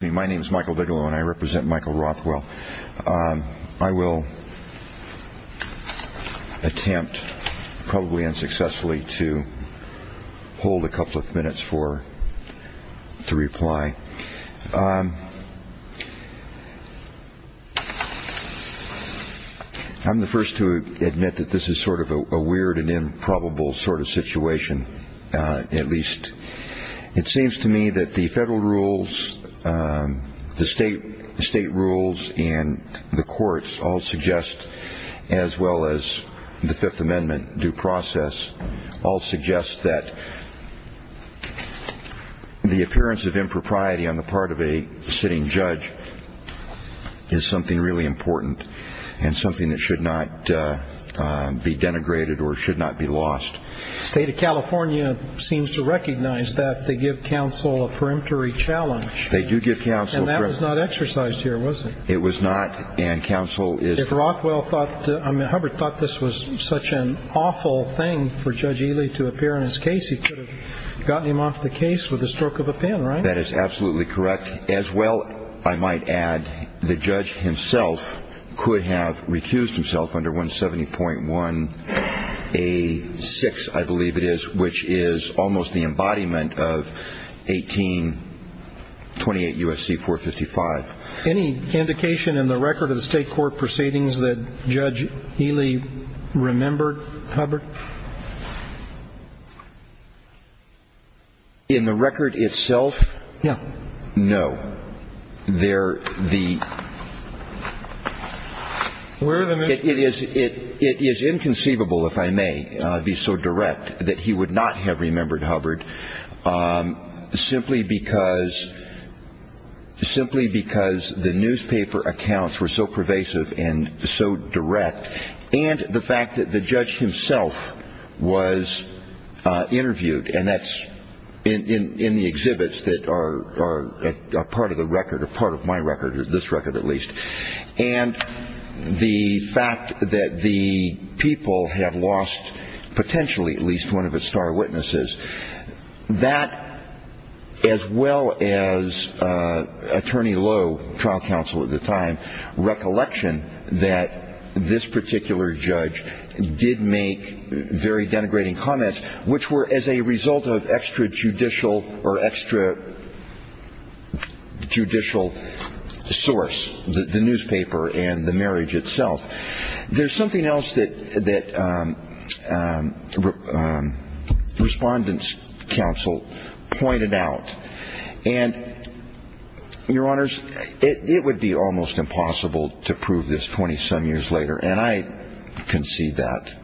My name is Michael Bigelow and I represent Michael Rothwell. I will attempt, probably unsuccessfully, to hold a couple of minutes for the reply. I'm the first to admit that this is sort of a weird and improbable sort of situation, at least. It seems to me that the federal rules, the state rules, and the courts all suggest, as well as the Fifth Amendment due process, all suggest that the appearance of impropriety on the part of a sitting judge is something really important and something that should not be denigrated or should not be lost. The state of California seems to recognize that they give counsel a perimetry challenge. They do give counsel a perimetry challenge. And that was not exercised here, was it? It was not, and counsel is If Rothwell thought, I mean Hubbard thought this was such an awful thing for Judge Ely to appear in his case, he could have gotten him off the case with the stroke of a pen, right? That is absolutely correct. As well, I might add, the judge himself could have recused himself under 170.1A6, I believe it is, which is almost the embodiment of 1828 U.S.C. 455. Any indication in the record of the state court proceedings that Judge Ely remembered, Hubbard? In the record itself? Yeah. No. It is inconceivable, if I may be so direct, that he would not have remembered Hubbard simply because the newspaper accounts were so pervasive and so direct, and the fact that the judge himself was interviewed, and that is in the exhibits that are part of the record or part of my record, this record at least, and the fact that the people had lost potentially at least one of his star witnesses, that, as well as Attorney Lowe, trial counsel at this particular judge did make very denigrating comments, which were as a result of extrajudicial or extrajudicial source, the newspaper and the marriage itself. There is something else that respondents counsel pointed out, and, Your Honors, it would be almost impossible to prove this 20-some years later, and I concede that,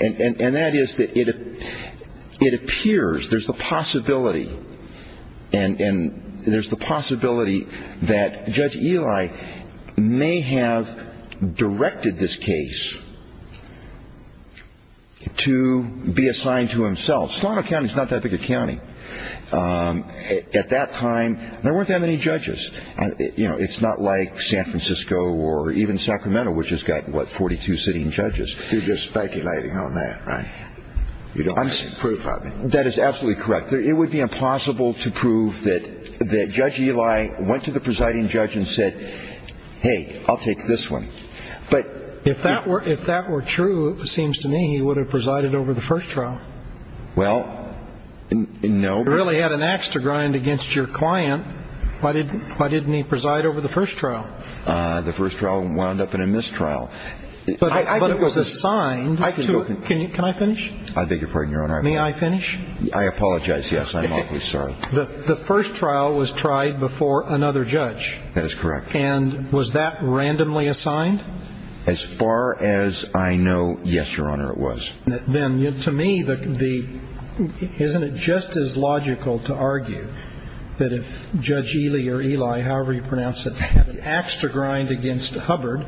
and that is that it appears, there's the possibility, and there's the possibility that Judge Ely may have directed this case to be assigned to himself. Slano County is not that big a county. At that time, there weren't that many judges. It's not like San Francisco or even Sacramento, which has got, what, 42 sitting judges. You're just speculating on that, right? You don't have proof of it. That is absolutely correct. It would be impossible to prove that Judge Ely went to the presiding judge and said, hey, I'll take this one. If that were true, it seems to me, he would have presided over the first trial. Well, no. You really had an ax to grind against your client. Why didn't he preside over the first trial? The first trial wound up in a mistrial. But it was assigned to him. Can I finish? I beg your pardon, Your Honor. May I finish? I apologize, yes. I'm awfully sorry. The first trial was tried before another judge. That is correct. And was that randomly assigned? As far as I know, yes, Your Honor, it was. Then to me, isn't it just as logical to argue that if Judge Ely or Eli, however you pronounce it, had an ax to grind against Hubbard,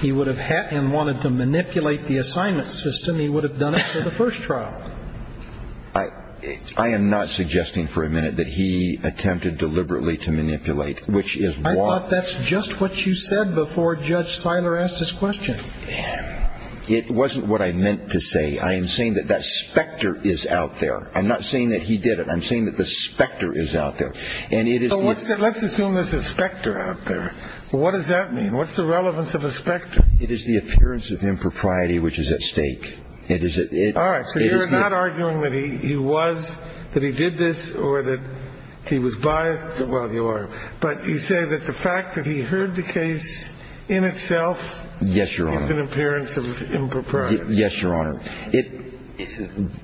he would have wanted to manipulate the assignment system, he would have done it for the first trial. I am not suggesting for a minute that he attempted deliberately to manipulate, which is why— I thought that's just what you said before Judge Seiler asked his question. And it wasn't what I meant to say. I am saying that that specter is out there. I'm not saying that he did it. I'm saying that the specter is out there. And it is— Let's assume there's a specter out there. What does that mean? What's the relevance of a specter? It is the appearance of impropriety, which is at stake. It is— All right. So you're not arguing that he was, that he did this or that he was biased? Well, you are. But you say that the fact that he heard the case in itself— Yes, Your Honor. —is an appearance of impropriety. Yes, Your Honor.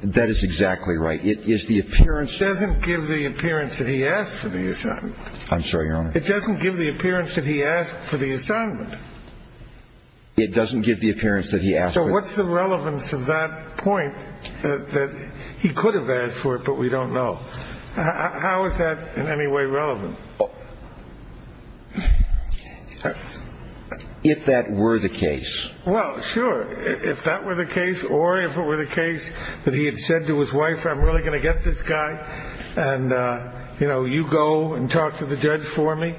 That is exactly right. It is the appearance— It doesn't give the appearance that he asked for the assignment. I'm sorry, Your Honor. It doesn't give the appearance that he asked for the assignment. It doesn't give the appearance that he asked for— So what's the relevance of that point, that he could have asked for it but we don't know? How is that in any way relevant? Well, if that were the case— Well, sure. If that were the case or if it were the case that he had said to his wife, I'm really going to get this guy and, you know, you go and talk to the judge for me.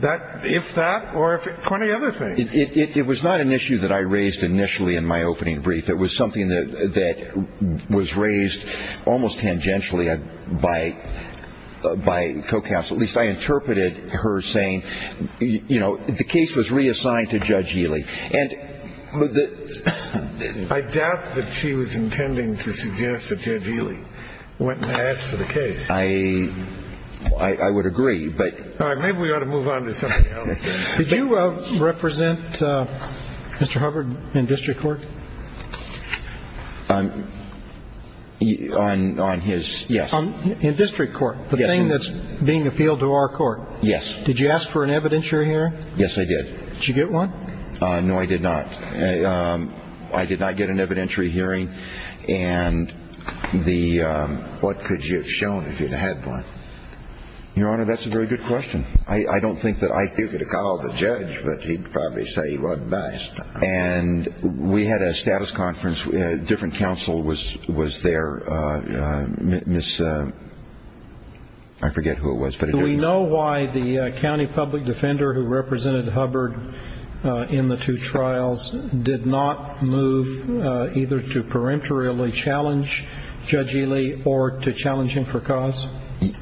That, if that, or if it, plenty other things. It was not an issue that I raised initially in my opening brief. It was something that was raised almost tangentially by co-counsel. At least I interpreted her saying, you know, the case was reassigned to Judge Healy. And the— I doubt that she was intending to suggest that Judge Healy went and asked for the case. I would agree, but— All right. Maybe we ought to move on to something else. Did you represent Mr. Hubbard in district court? On his— Yes. In district court, the thing that's being appealed to our court. Yes. Did you ask for an evidentiary hearing? Yes, I did. Did you get one? No, I did not. I did not get an evidentiary hearing. And the— What could you have shown if you'd had one? Your Honor, that's a very good question. I don't think that I— You could have called the judge, but he'd probably say he wasn't biased. And we had a status conference. Different counsel was there. Ms.— I forget who it was, but— Do we know why the county public defender who represented Hubbard in the two trials did not move either to peremptorily challenge Judge Healy or to challenge him for cause?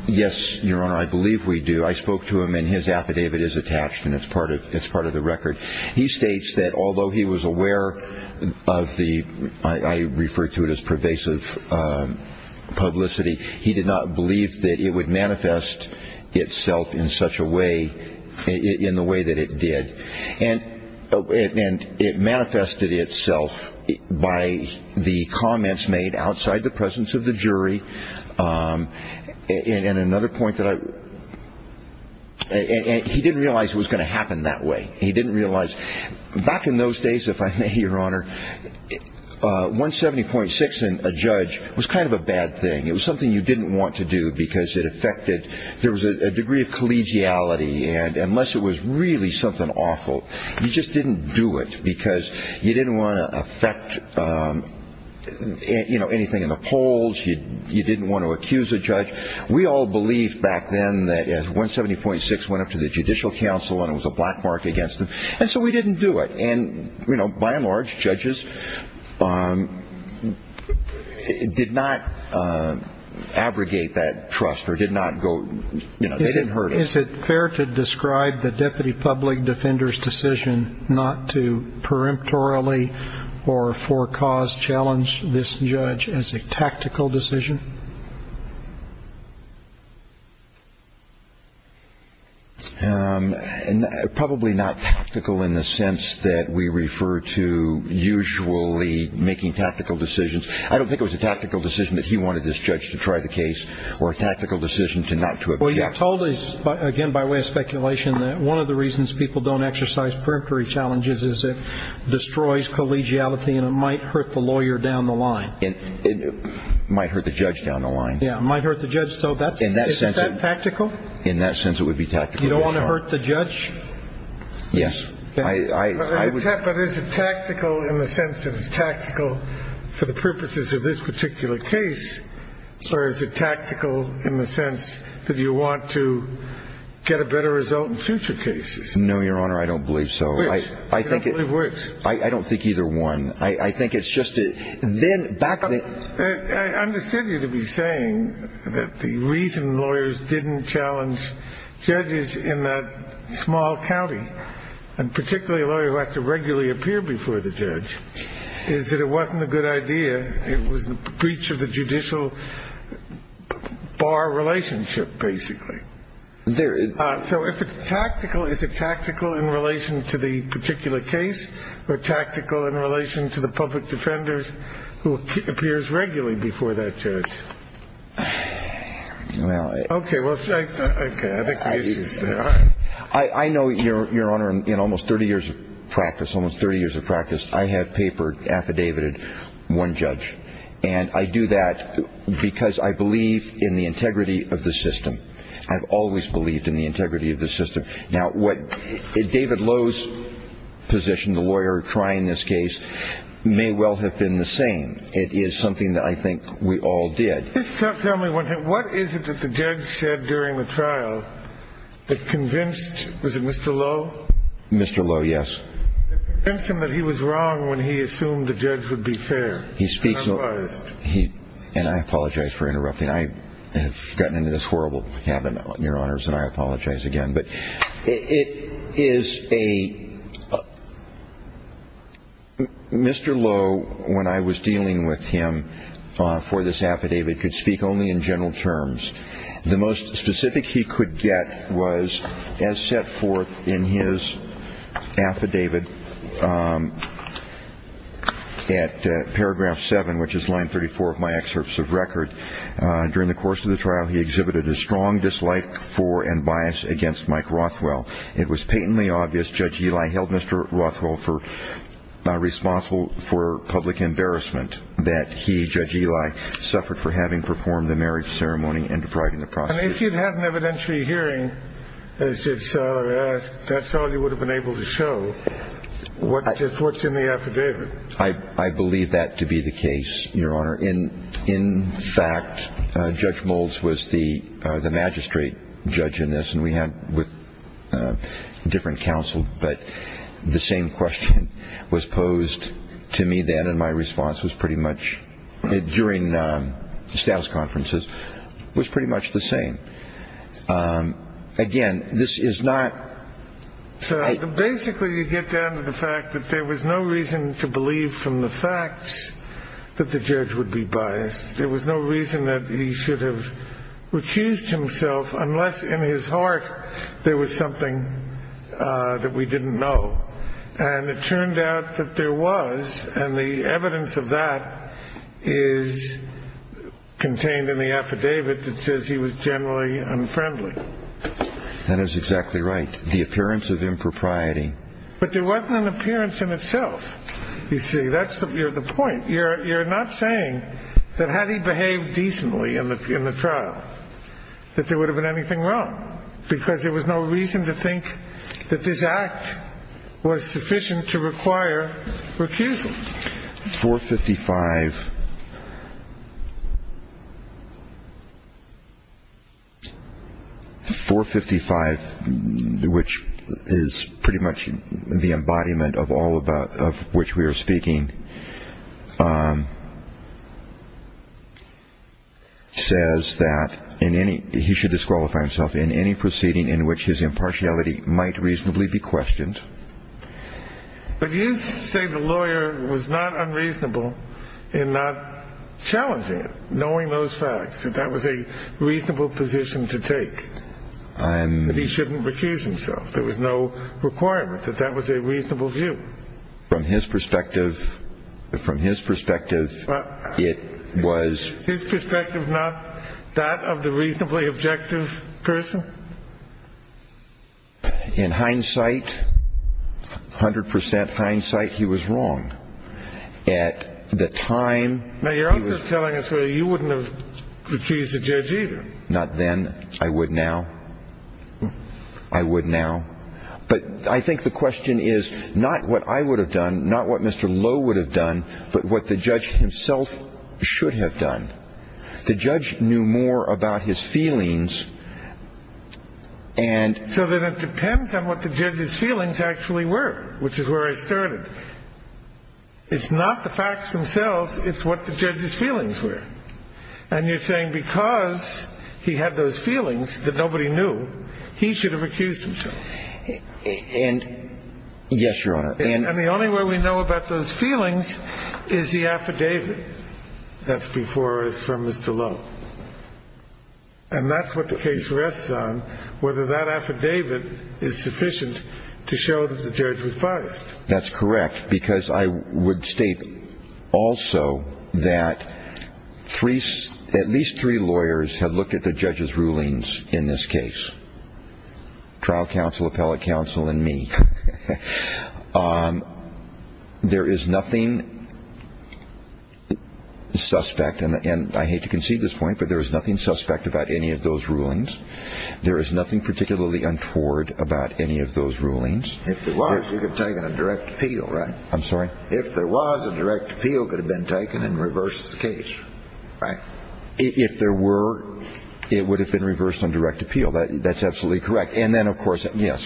Yes, Your Honor, I believe we do. I spoke to him, and his affidavit is attached, and it's part of the record. He states that although he was aware of the— I refer to it as pervasive publicity— he did not believe that it would manifest itself in such a way— in the way that it did. And it manifested itself by the comments made outside the presence of the jury. And another point that I— He didn't realize it was going to happen that way. He didn't realize— Back in those days, if I may, Your Honor, 170.6 and a judge was kind of a bad thing. It was something you didn't want to do because it affected— There was a degree of collegiality, and unless it was really something awful, you just didn't do it because you didn't want to affect anything in the polls. You didn't want to accuse a judge. We all believed back then that 170.6 went up to the judicial council, and it was a black mark against them, and so we didn't do it. And by and large, judges did not abrogate that trust or did not go— Is it fair to describe the deputy public defender's decision not to preemptorily or for cause challenge this judge as a tactical decision? Probably not tactical in the sense that we refer to usually making tactical decisions. I don't think it was a tactical decision that he wanted this judge to try the case or a tactical decision to not to object. Well, you told us, again, by way of speculation, that one of the reasons people don't exercise preemptory challenges is it destroys collegiality, and it might hurt the lawyer down the line. It might hurt the judge down the line. Yeah, it might hurt the judge down the line. Is that tactical? In that sense, it would be tactical. You don't want to hurt the judge? Yes. But is it tactical in the sense that it's tactical for the purposes of this particular case, or is it tactical in the sense that you want to get a better result in future cases? No, Your Honor, I don't believe so. Which? I don't believe which. I don't think either one. I think it's just a— I understand you to be saying that the reason lawyers didn't challenge judges in that small county, and particularly a lawyer who has to regularly appear before the judge, is that it wasn't a good idea. It was the breach of the judicial bar relationship, basically. So if it's tactical, is it tactical in relation to the particular case or tactical in relation to the public defenders who appears regularly before that judge? Well, I— Okay, well, okay. I think the answer's there. All right. I know, Your Honor, in almost 30 years of practice, almost 30 years of practice, I have papered, affidavited one judge. And I do that because I believe in the integrity of the system. I've always believed in the integrity of the system. Now, what— David Lowe's position, the lawyer trying this case, may well have been the same. It is something that I think we all did. Just tell me one thing. What is it that the judge said during the trial that convinced— Was it Mr. Lowe? Mr. Lowe, yes. That convinced him that he was wrong when he assumed the judge would be fair? He speaks— Otherwise. He— And I apologize for interrupting. I have gotten into this horrible habit, Your Honors, and I apologize again. But it is a— Mr. Lowe, when I was dealing with him for this affidavit, could speak only in general terms. The most specific he could get was, as set forth in his affidavit at paragraph 7, which is line 34 of my excerpts of record, During the course of the trial, he exhibited a strong dislike for and bias against Mike Rothwell. It was patently obvious Judge Eli held Mr. Rothwell for— responsible for public embarrassment that he, Judge Eli, suffered for having performed the marriage ceremony and depriving the prosecutor. And if you'd had an evidentiary hearing, as Judge Seller asked, Judge Seller, you would have been able to show what's in the affidavit. I believe that to be the case, Your Honor. In fact, Judge Moulds was the magistrate judge in this, and we had different counsel. But the same question was posed to me then, and my response was pretty much— during the status conferences—was pretty much the same. Again, this is not— So basically, you get down to the fact that there was no reason to believe from the facts that the judge would be biased. There was no reason that he should have recused himself unless in his heart there was something that we didn't know. And it turned out that there was, and the evidence of that is contained in the affidavit that says he was generally unfriendly. That is exactly right. The appearance of impropriety. But there wasn't an appearance in itself. You see, that's the point. You're not saying that had he behaved decently in the trial that there would have been anything wrong, because there was no reason to think that this act was sufficient to require recusal. 455. 455, which is pretty much the embodiment of all of which we are speaking, says that he should disqualify himself in any proceeding in which his impartiality might reasonably be questioned. But you say the lawyer was not unreasonable in not challenging it, knowing those facts, that that was a reasonable position to take. And he shouldn't recuse himself. There was no requirement that that was a reasonable view. From his perspective, from his perspective, it was. His perspective, not that of the reasonably objective person. In hindsight, 100 percent hindsight, he was wrong at the time. Now, you're also telling us that you wouldn't have recused the judge either. Not then. I would now. I would now. But I think the question is not what I would have done, not what Mr. Lowe would have done, but what the judge himself should have done. The judge knew more about his feelings. And so then it depends on what the judge's feelings actually were, which is where I started. It's not the facts themselves. It's what the judge's feelings were. And you're saying because he had those feelings that nobody knew, he should have recused himself. And yes, Your Honor. And the only way we know about those feelings is the affidavit. That's before us from Mr. Lowe. And that's what the case rests on, whether that affidavit is sufficient to show that the judge was biased. That's correct, because I would state also that at least three lawyers had looked at the judge's rulings in this case. Trial counsel, appellate counsel, and me. There is nothing suspect, and I hate to concede this point, but there is nothing suspect about any of those rulings. There is nothing particularly untoward about any of those rulings. If there was, you could have taken a direct appeal, right? I'm sorry? If there was a direct appeal, it could have been taken and reversed the case, right? If there were, it would have been reversed on direct appeal. That's absolutely correct. And then, of course, yes.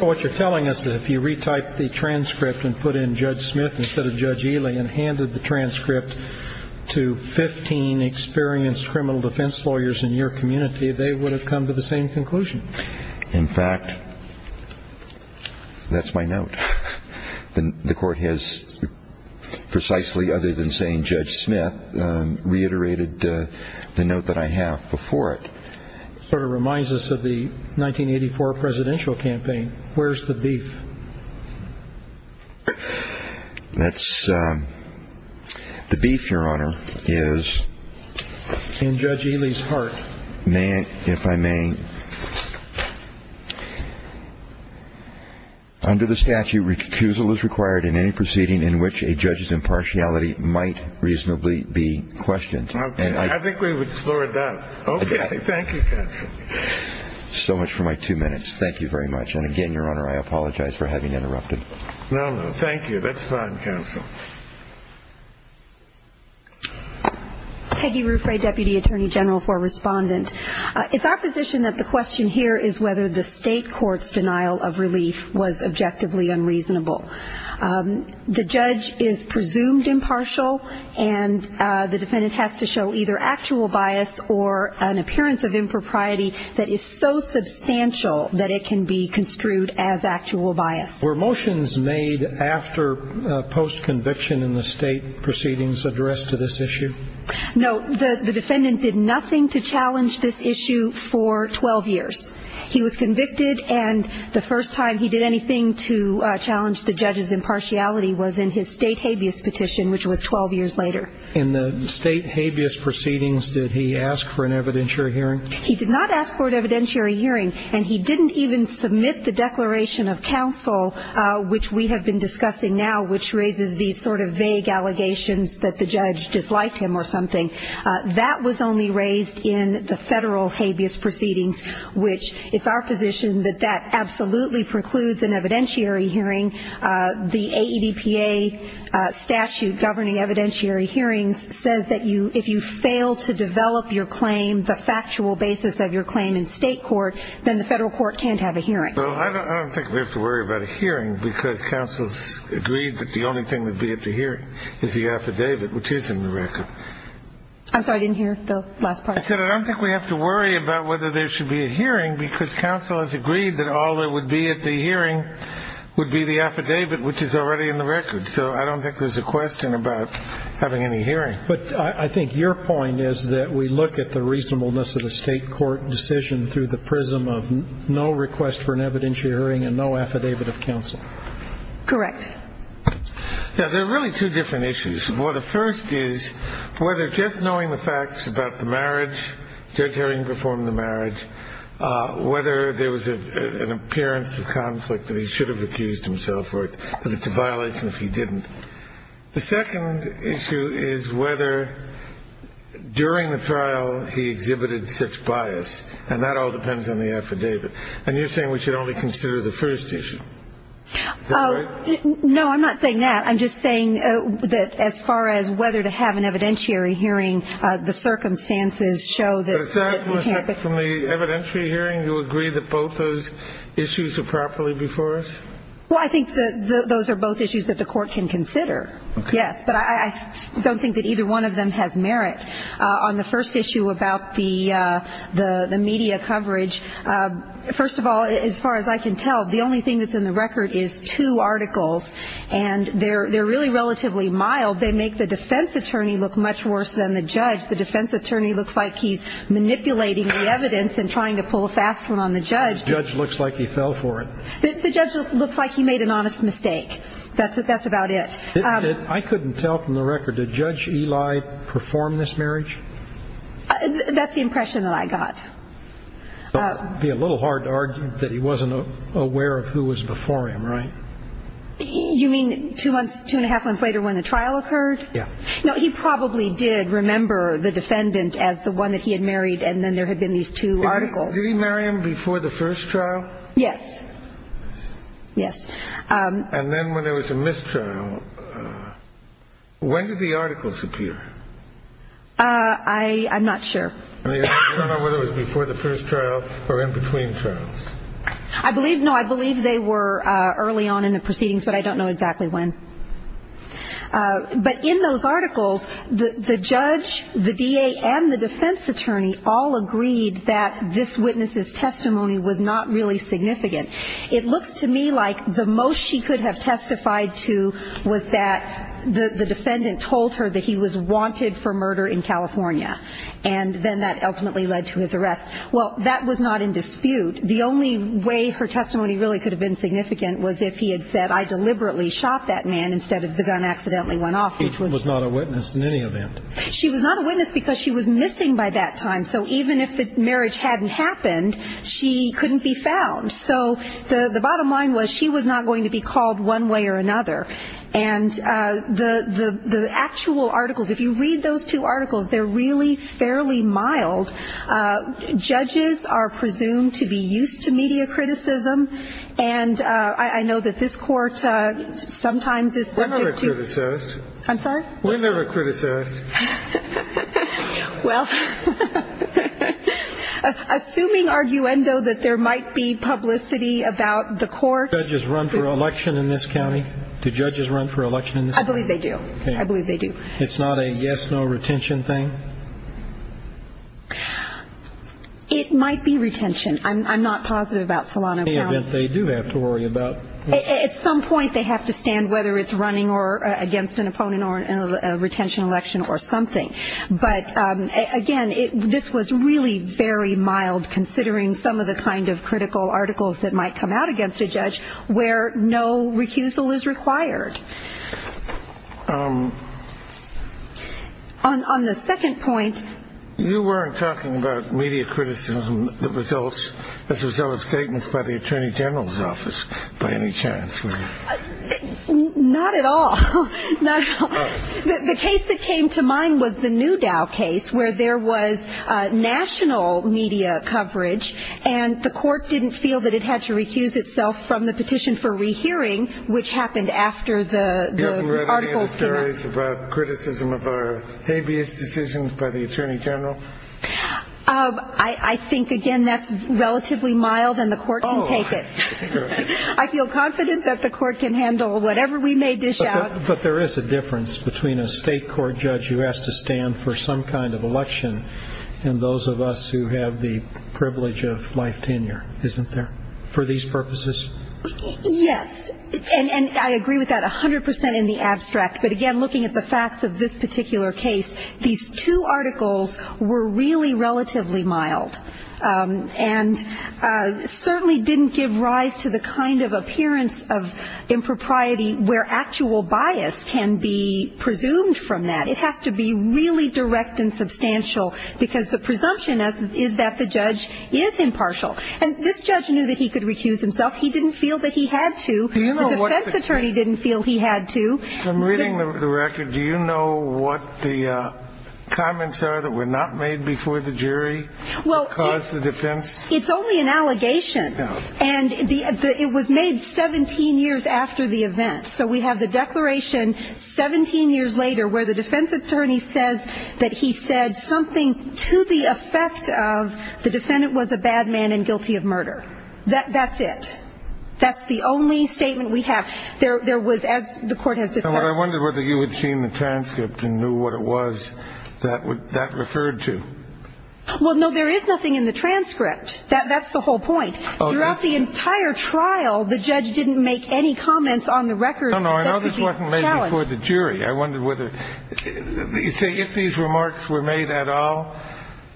What you're telling us is if you retype the transcript and put in Judge Smith instead of Judge Ely and handed the transcript to 15 experienced criminal defense lawyers in your community, they would have come to the same conclusion. In fact, that's my note. The court has, precisely other than saying Judge Smith, reiterated the note that I have before it. Sort of reminds us of the 1984 presidential campaign. Where's the beef? That's the beef, Your Honor, is in Judge Ely's heart. If I may. Under the statute, recusal is required in any proceeding in which a judge's impartiality might reasonably be questioned. I think we would explore that. Okay. Thank you, Counsel. So much for my two minutes. Thank you very much. And again, Your Honor, I apologize for having interrupted. No, no. Thank you. That's fine, Counsel. Peggy Ruffray, Deputy Attorney General for Respondent. It's our position that the question here is whether the state court's denial of relief was objectively unreasonable. The judge is presumed impartial and the defendant has to show either actual bias or an appearance of impropriety that is so substantial that it can be construed as actual bias. Were motions made after post-conviction in the state proceedings addressed to this issue? No, the defendant did nothing to challenge this issue for 12 years. He was convicted and the first time he did anything to challenge the judge's impartiality was in his state habeas petition, which was 12 years later. In the state habeas proceedings, did he ask for an evidentiary hearing? He did not ask for an evidentiary hearing. And he didn't even submit the declaration of counsel, which we have been discussing now, which raises these sort of vague allegations that the judge disliked him or something. That was only raised in the federal habeas proceedings, which it's our position that that absolutely precludes an evidentiary hearing. The AEDPA statute governing evidentiary hearings says that if you fail to develop your claim, the factual basis of your claim in state court, then the federal court can't have a hearing. Well, I don't think we have to worry about a hearing because counsel's agreed that the only thing that would be at the hearing is the affidavit, which is in the record. I'm sorry, I didn't hear the last part. I said, I don't think we have to worry about whether there should be a hearing because counsel has agreed that all that would be at the hearing would be the affidavit, which is already in the record. So I don't think there's a question about having any hearing. But I think your point is that we look at the reasonableness of the state court decision through the prism of no request for an evidentiary hearing and no affidavit of counsel. Correct. Now, there are really two different issues. Well, the first is whether just knowing the facts about the marriage, the judge hearing before the marriage, whether there was an appearance of conflict that he should have accused himself of, that it's a violation if he didn't. The second issue is whether during the trial, he exhibited such bias. And that all depends on the affidavit. And you're saying we should only consider the first issue. No, I'm not saying that. I'm just saying that as far as whether to have an evidentiary hearing, the circumstances show that from the evidentiary hearing, you agree that both those issues are properly before us. Well, I think that those are both issues that the court can consider. Yes. But I don't think that either one of them has merit on the first issue about the media coverage. First of all, as far as I can tell, the only thing that's in the record is two articles. And they're really relatively mild. They make the defense attorney look much worse than the judge. The defense attorney looks like he's manipulating the evidence and trying to pull a fast one on the judge. The judge looks like he fell for it. The judge looks like he made an honest mistake. That's about it. I couldn't tell from the record. Did Judge Eli perform this marriage? That's the impression that I got. Be a little hard to argue that he wasn't aware of who was before him, right? You mean two months, two and a half months later when the trial occurred? Yeah. No, he probably did remember the defendant as the one that he had married. And then there had been these two articles. Did he marry him before the first trial? Yes. Yes. And then when there was a mistrial, when did the articles appear? I'm not sure. I don't know whether it was before the first trial or in between trials. I believe, no, I believe they were early on in the proceedings, but I don't know exactly when. But in those articles, the judge, the DA, and the defense attorney all agreed that this witness's testimony was not really significant. It looks to me like the most she could have testified to was that the defendant told her that he was wanted for murder in California. And then that ultimately led to his arrest. Well, that was not in dispute. The only way her testimony really could have been significant was if he had said, I deliberately shot that man instead of the gun accidentally went off. Which was not a witness in any event. She was not a witness because she was missing by that time. So even if the marriage hadn't happened, she couldn't be found. So the bottom line was she was not going to be called one way or another. And the actual articles, if you read those two articles, they're really fairly mild. Judges are presumed to be used to media criticism. And I know that this court sometimes is subject to- We're never criticized. I'm sorry? We're never criticized. Well, assuming arguendo that there might be publicity about the court- Do judges run for election in this county? Do judges run for election in this county? I believe they do. I believe they do. It's not a yes, no retention thing? It might be retention. I'm not positive about Solano County. In any event, they do have to worry about- At some point, they have to stand whether it's running against an opponent or a retention election or something. But again, this was really very mild considering some of the kind of critical articles that might come out against a judge where no recusal is required. On the second point- You weren't talking about media criticism as a result of statements by the attorney general's office by any chance? Not at all. The case that came to mind was the Newdow case where there was national media coverage and the court didn't feel that it had to recuse itself from the petition for rehearing, which happened after the article- About criticism of our habeas decisions by the attorney general? I think, again, that's relatively mild and the court can take it. I feel confident that the court can handle whatever we may dish out. But there is a difference between a state court judge who has to stand for some kind of election and those of us who have the privilege of life tenure, isn't there, for these purposes? Yes, and I agree with that 100% in the abstract. But again, looking at the facts of this particular case, these two articles were really relatively mild and certainly didn't give rise to the kind of appearance of impropriety where actual bias can be presumed from that. It has to be really direct and substantial because the presumption is that the judge is impartial. And this judge knew that he could recuse himself. He didn't feel that he had to. The defense attorney didn't feel he had to. From reading the record, do you know what the comments are that were not made before the jury that caused the defense- It's only an allegation. No. And it was made 17 years after the event. So we have the declaration 17 years later where the defense attorney says that he said something to the effect of the defendant was a bad man and guilty of murder. That's it. That's the only statement we have. There was, as the court has discussed- I wondered whether you had seen the transcript and knew what it was that referred to. Well, no. There is nothing in the transcript. That's the whole point. Throughout the entire trial, the judge didn't make any comments on the record- No, no. I know this wasn't made before the jury. I wondered whether- If these remarks were made at all,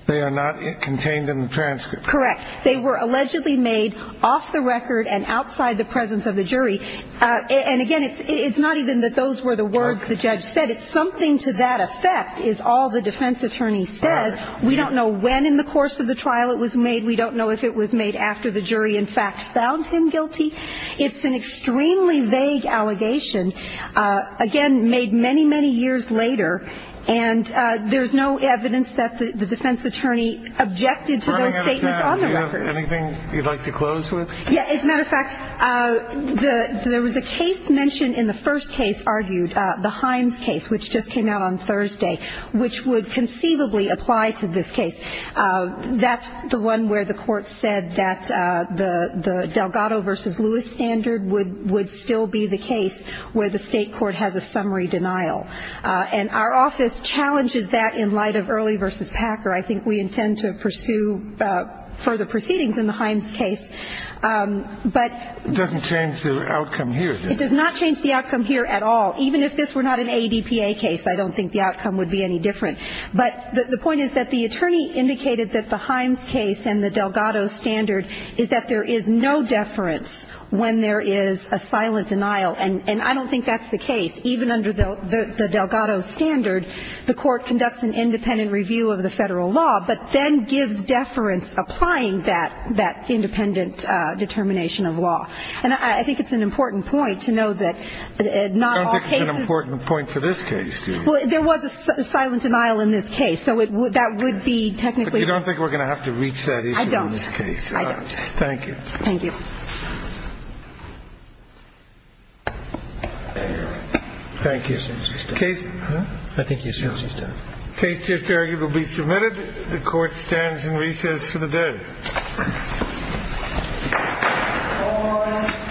they are not contained in the transcript. Correct. They were allegedly made off the record and outside the presence of the jury. And again, it's not even that those were the words the judge said. It's something to that effect is all the defense attorney says. We don't know when in the course of the trial it was made. We don't know if it was made after the jury, in fact, found him guilty. It's an extremely vague allegation. Again, made many, many years later. And there's no evidence that the defense attorney objected to those statements on the record. Anything you'd like to close with? Yeah. As a matter of fact, there was a case mentioned in the first case argued, the Himes case, which just came out on Thursday, which would conceivably apply to this case. That's the one where the court said that the Delgado versus Lewis standard would still be the case where the state court has a summary denial. And our office challenges that in light of Early versus Packer. I think we intend to pursue further proceedings in the Himes case. It doesn't change the outcome here. It does not change the outcome here at all. Even if this were not an ADPA case, I don't think the outcome would be any different. But the point is that the attorney indicated that the Himes case and the Delgado standard is that there is no deference when there is a silent denial. And I don't think that's the case. Even under the Delgado standard, the court conducts an independent review of the Federal law, but then gives deference applying that independent determination of law. And I think it's an important point to know that not all cases Don't think it's an important point for this case, do you? Well, there was a silent denial in this case, so that would be technically But you don't think we're going to have to reach that issue in this case? I don't. I don't. Thank you. Thank you. Thank you. I think you. Case just arguably submitted. The court stands in recess for the dead.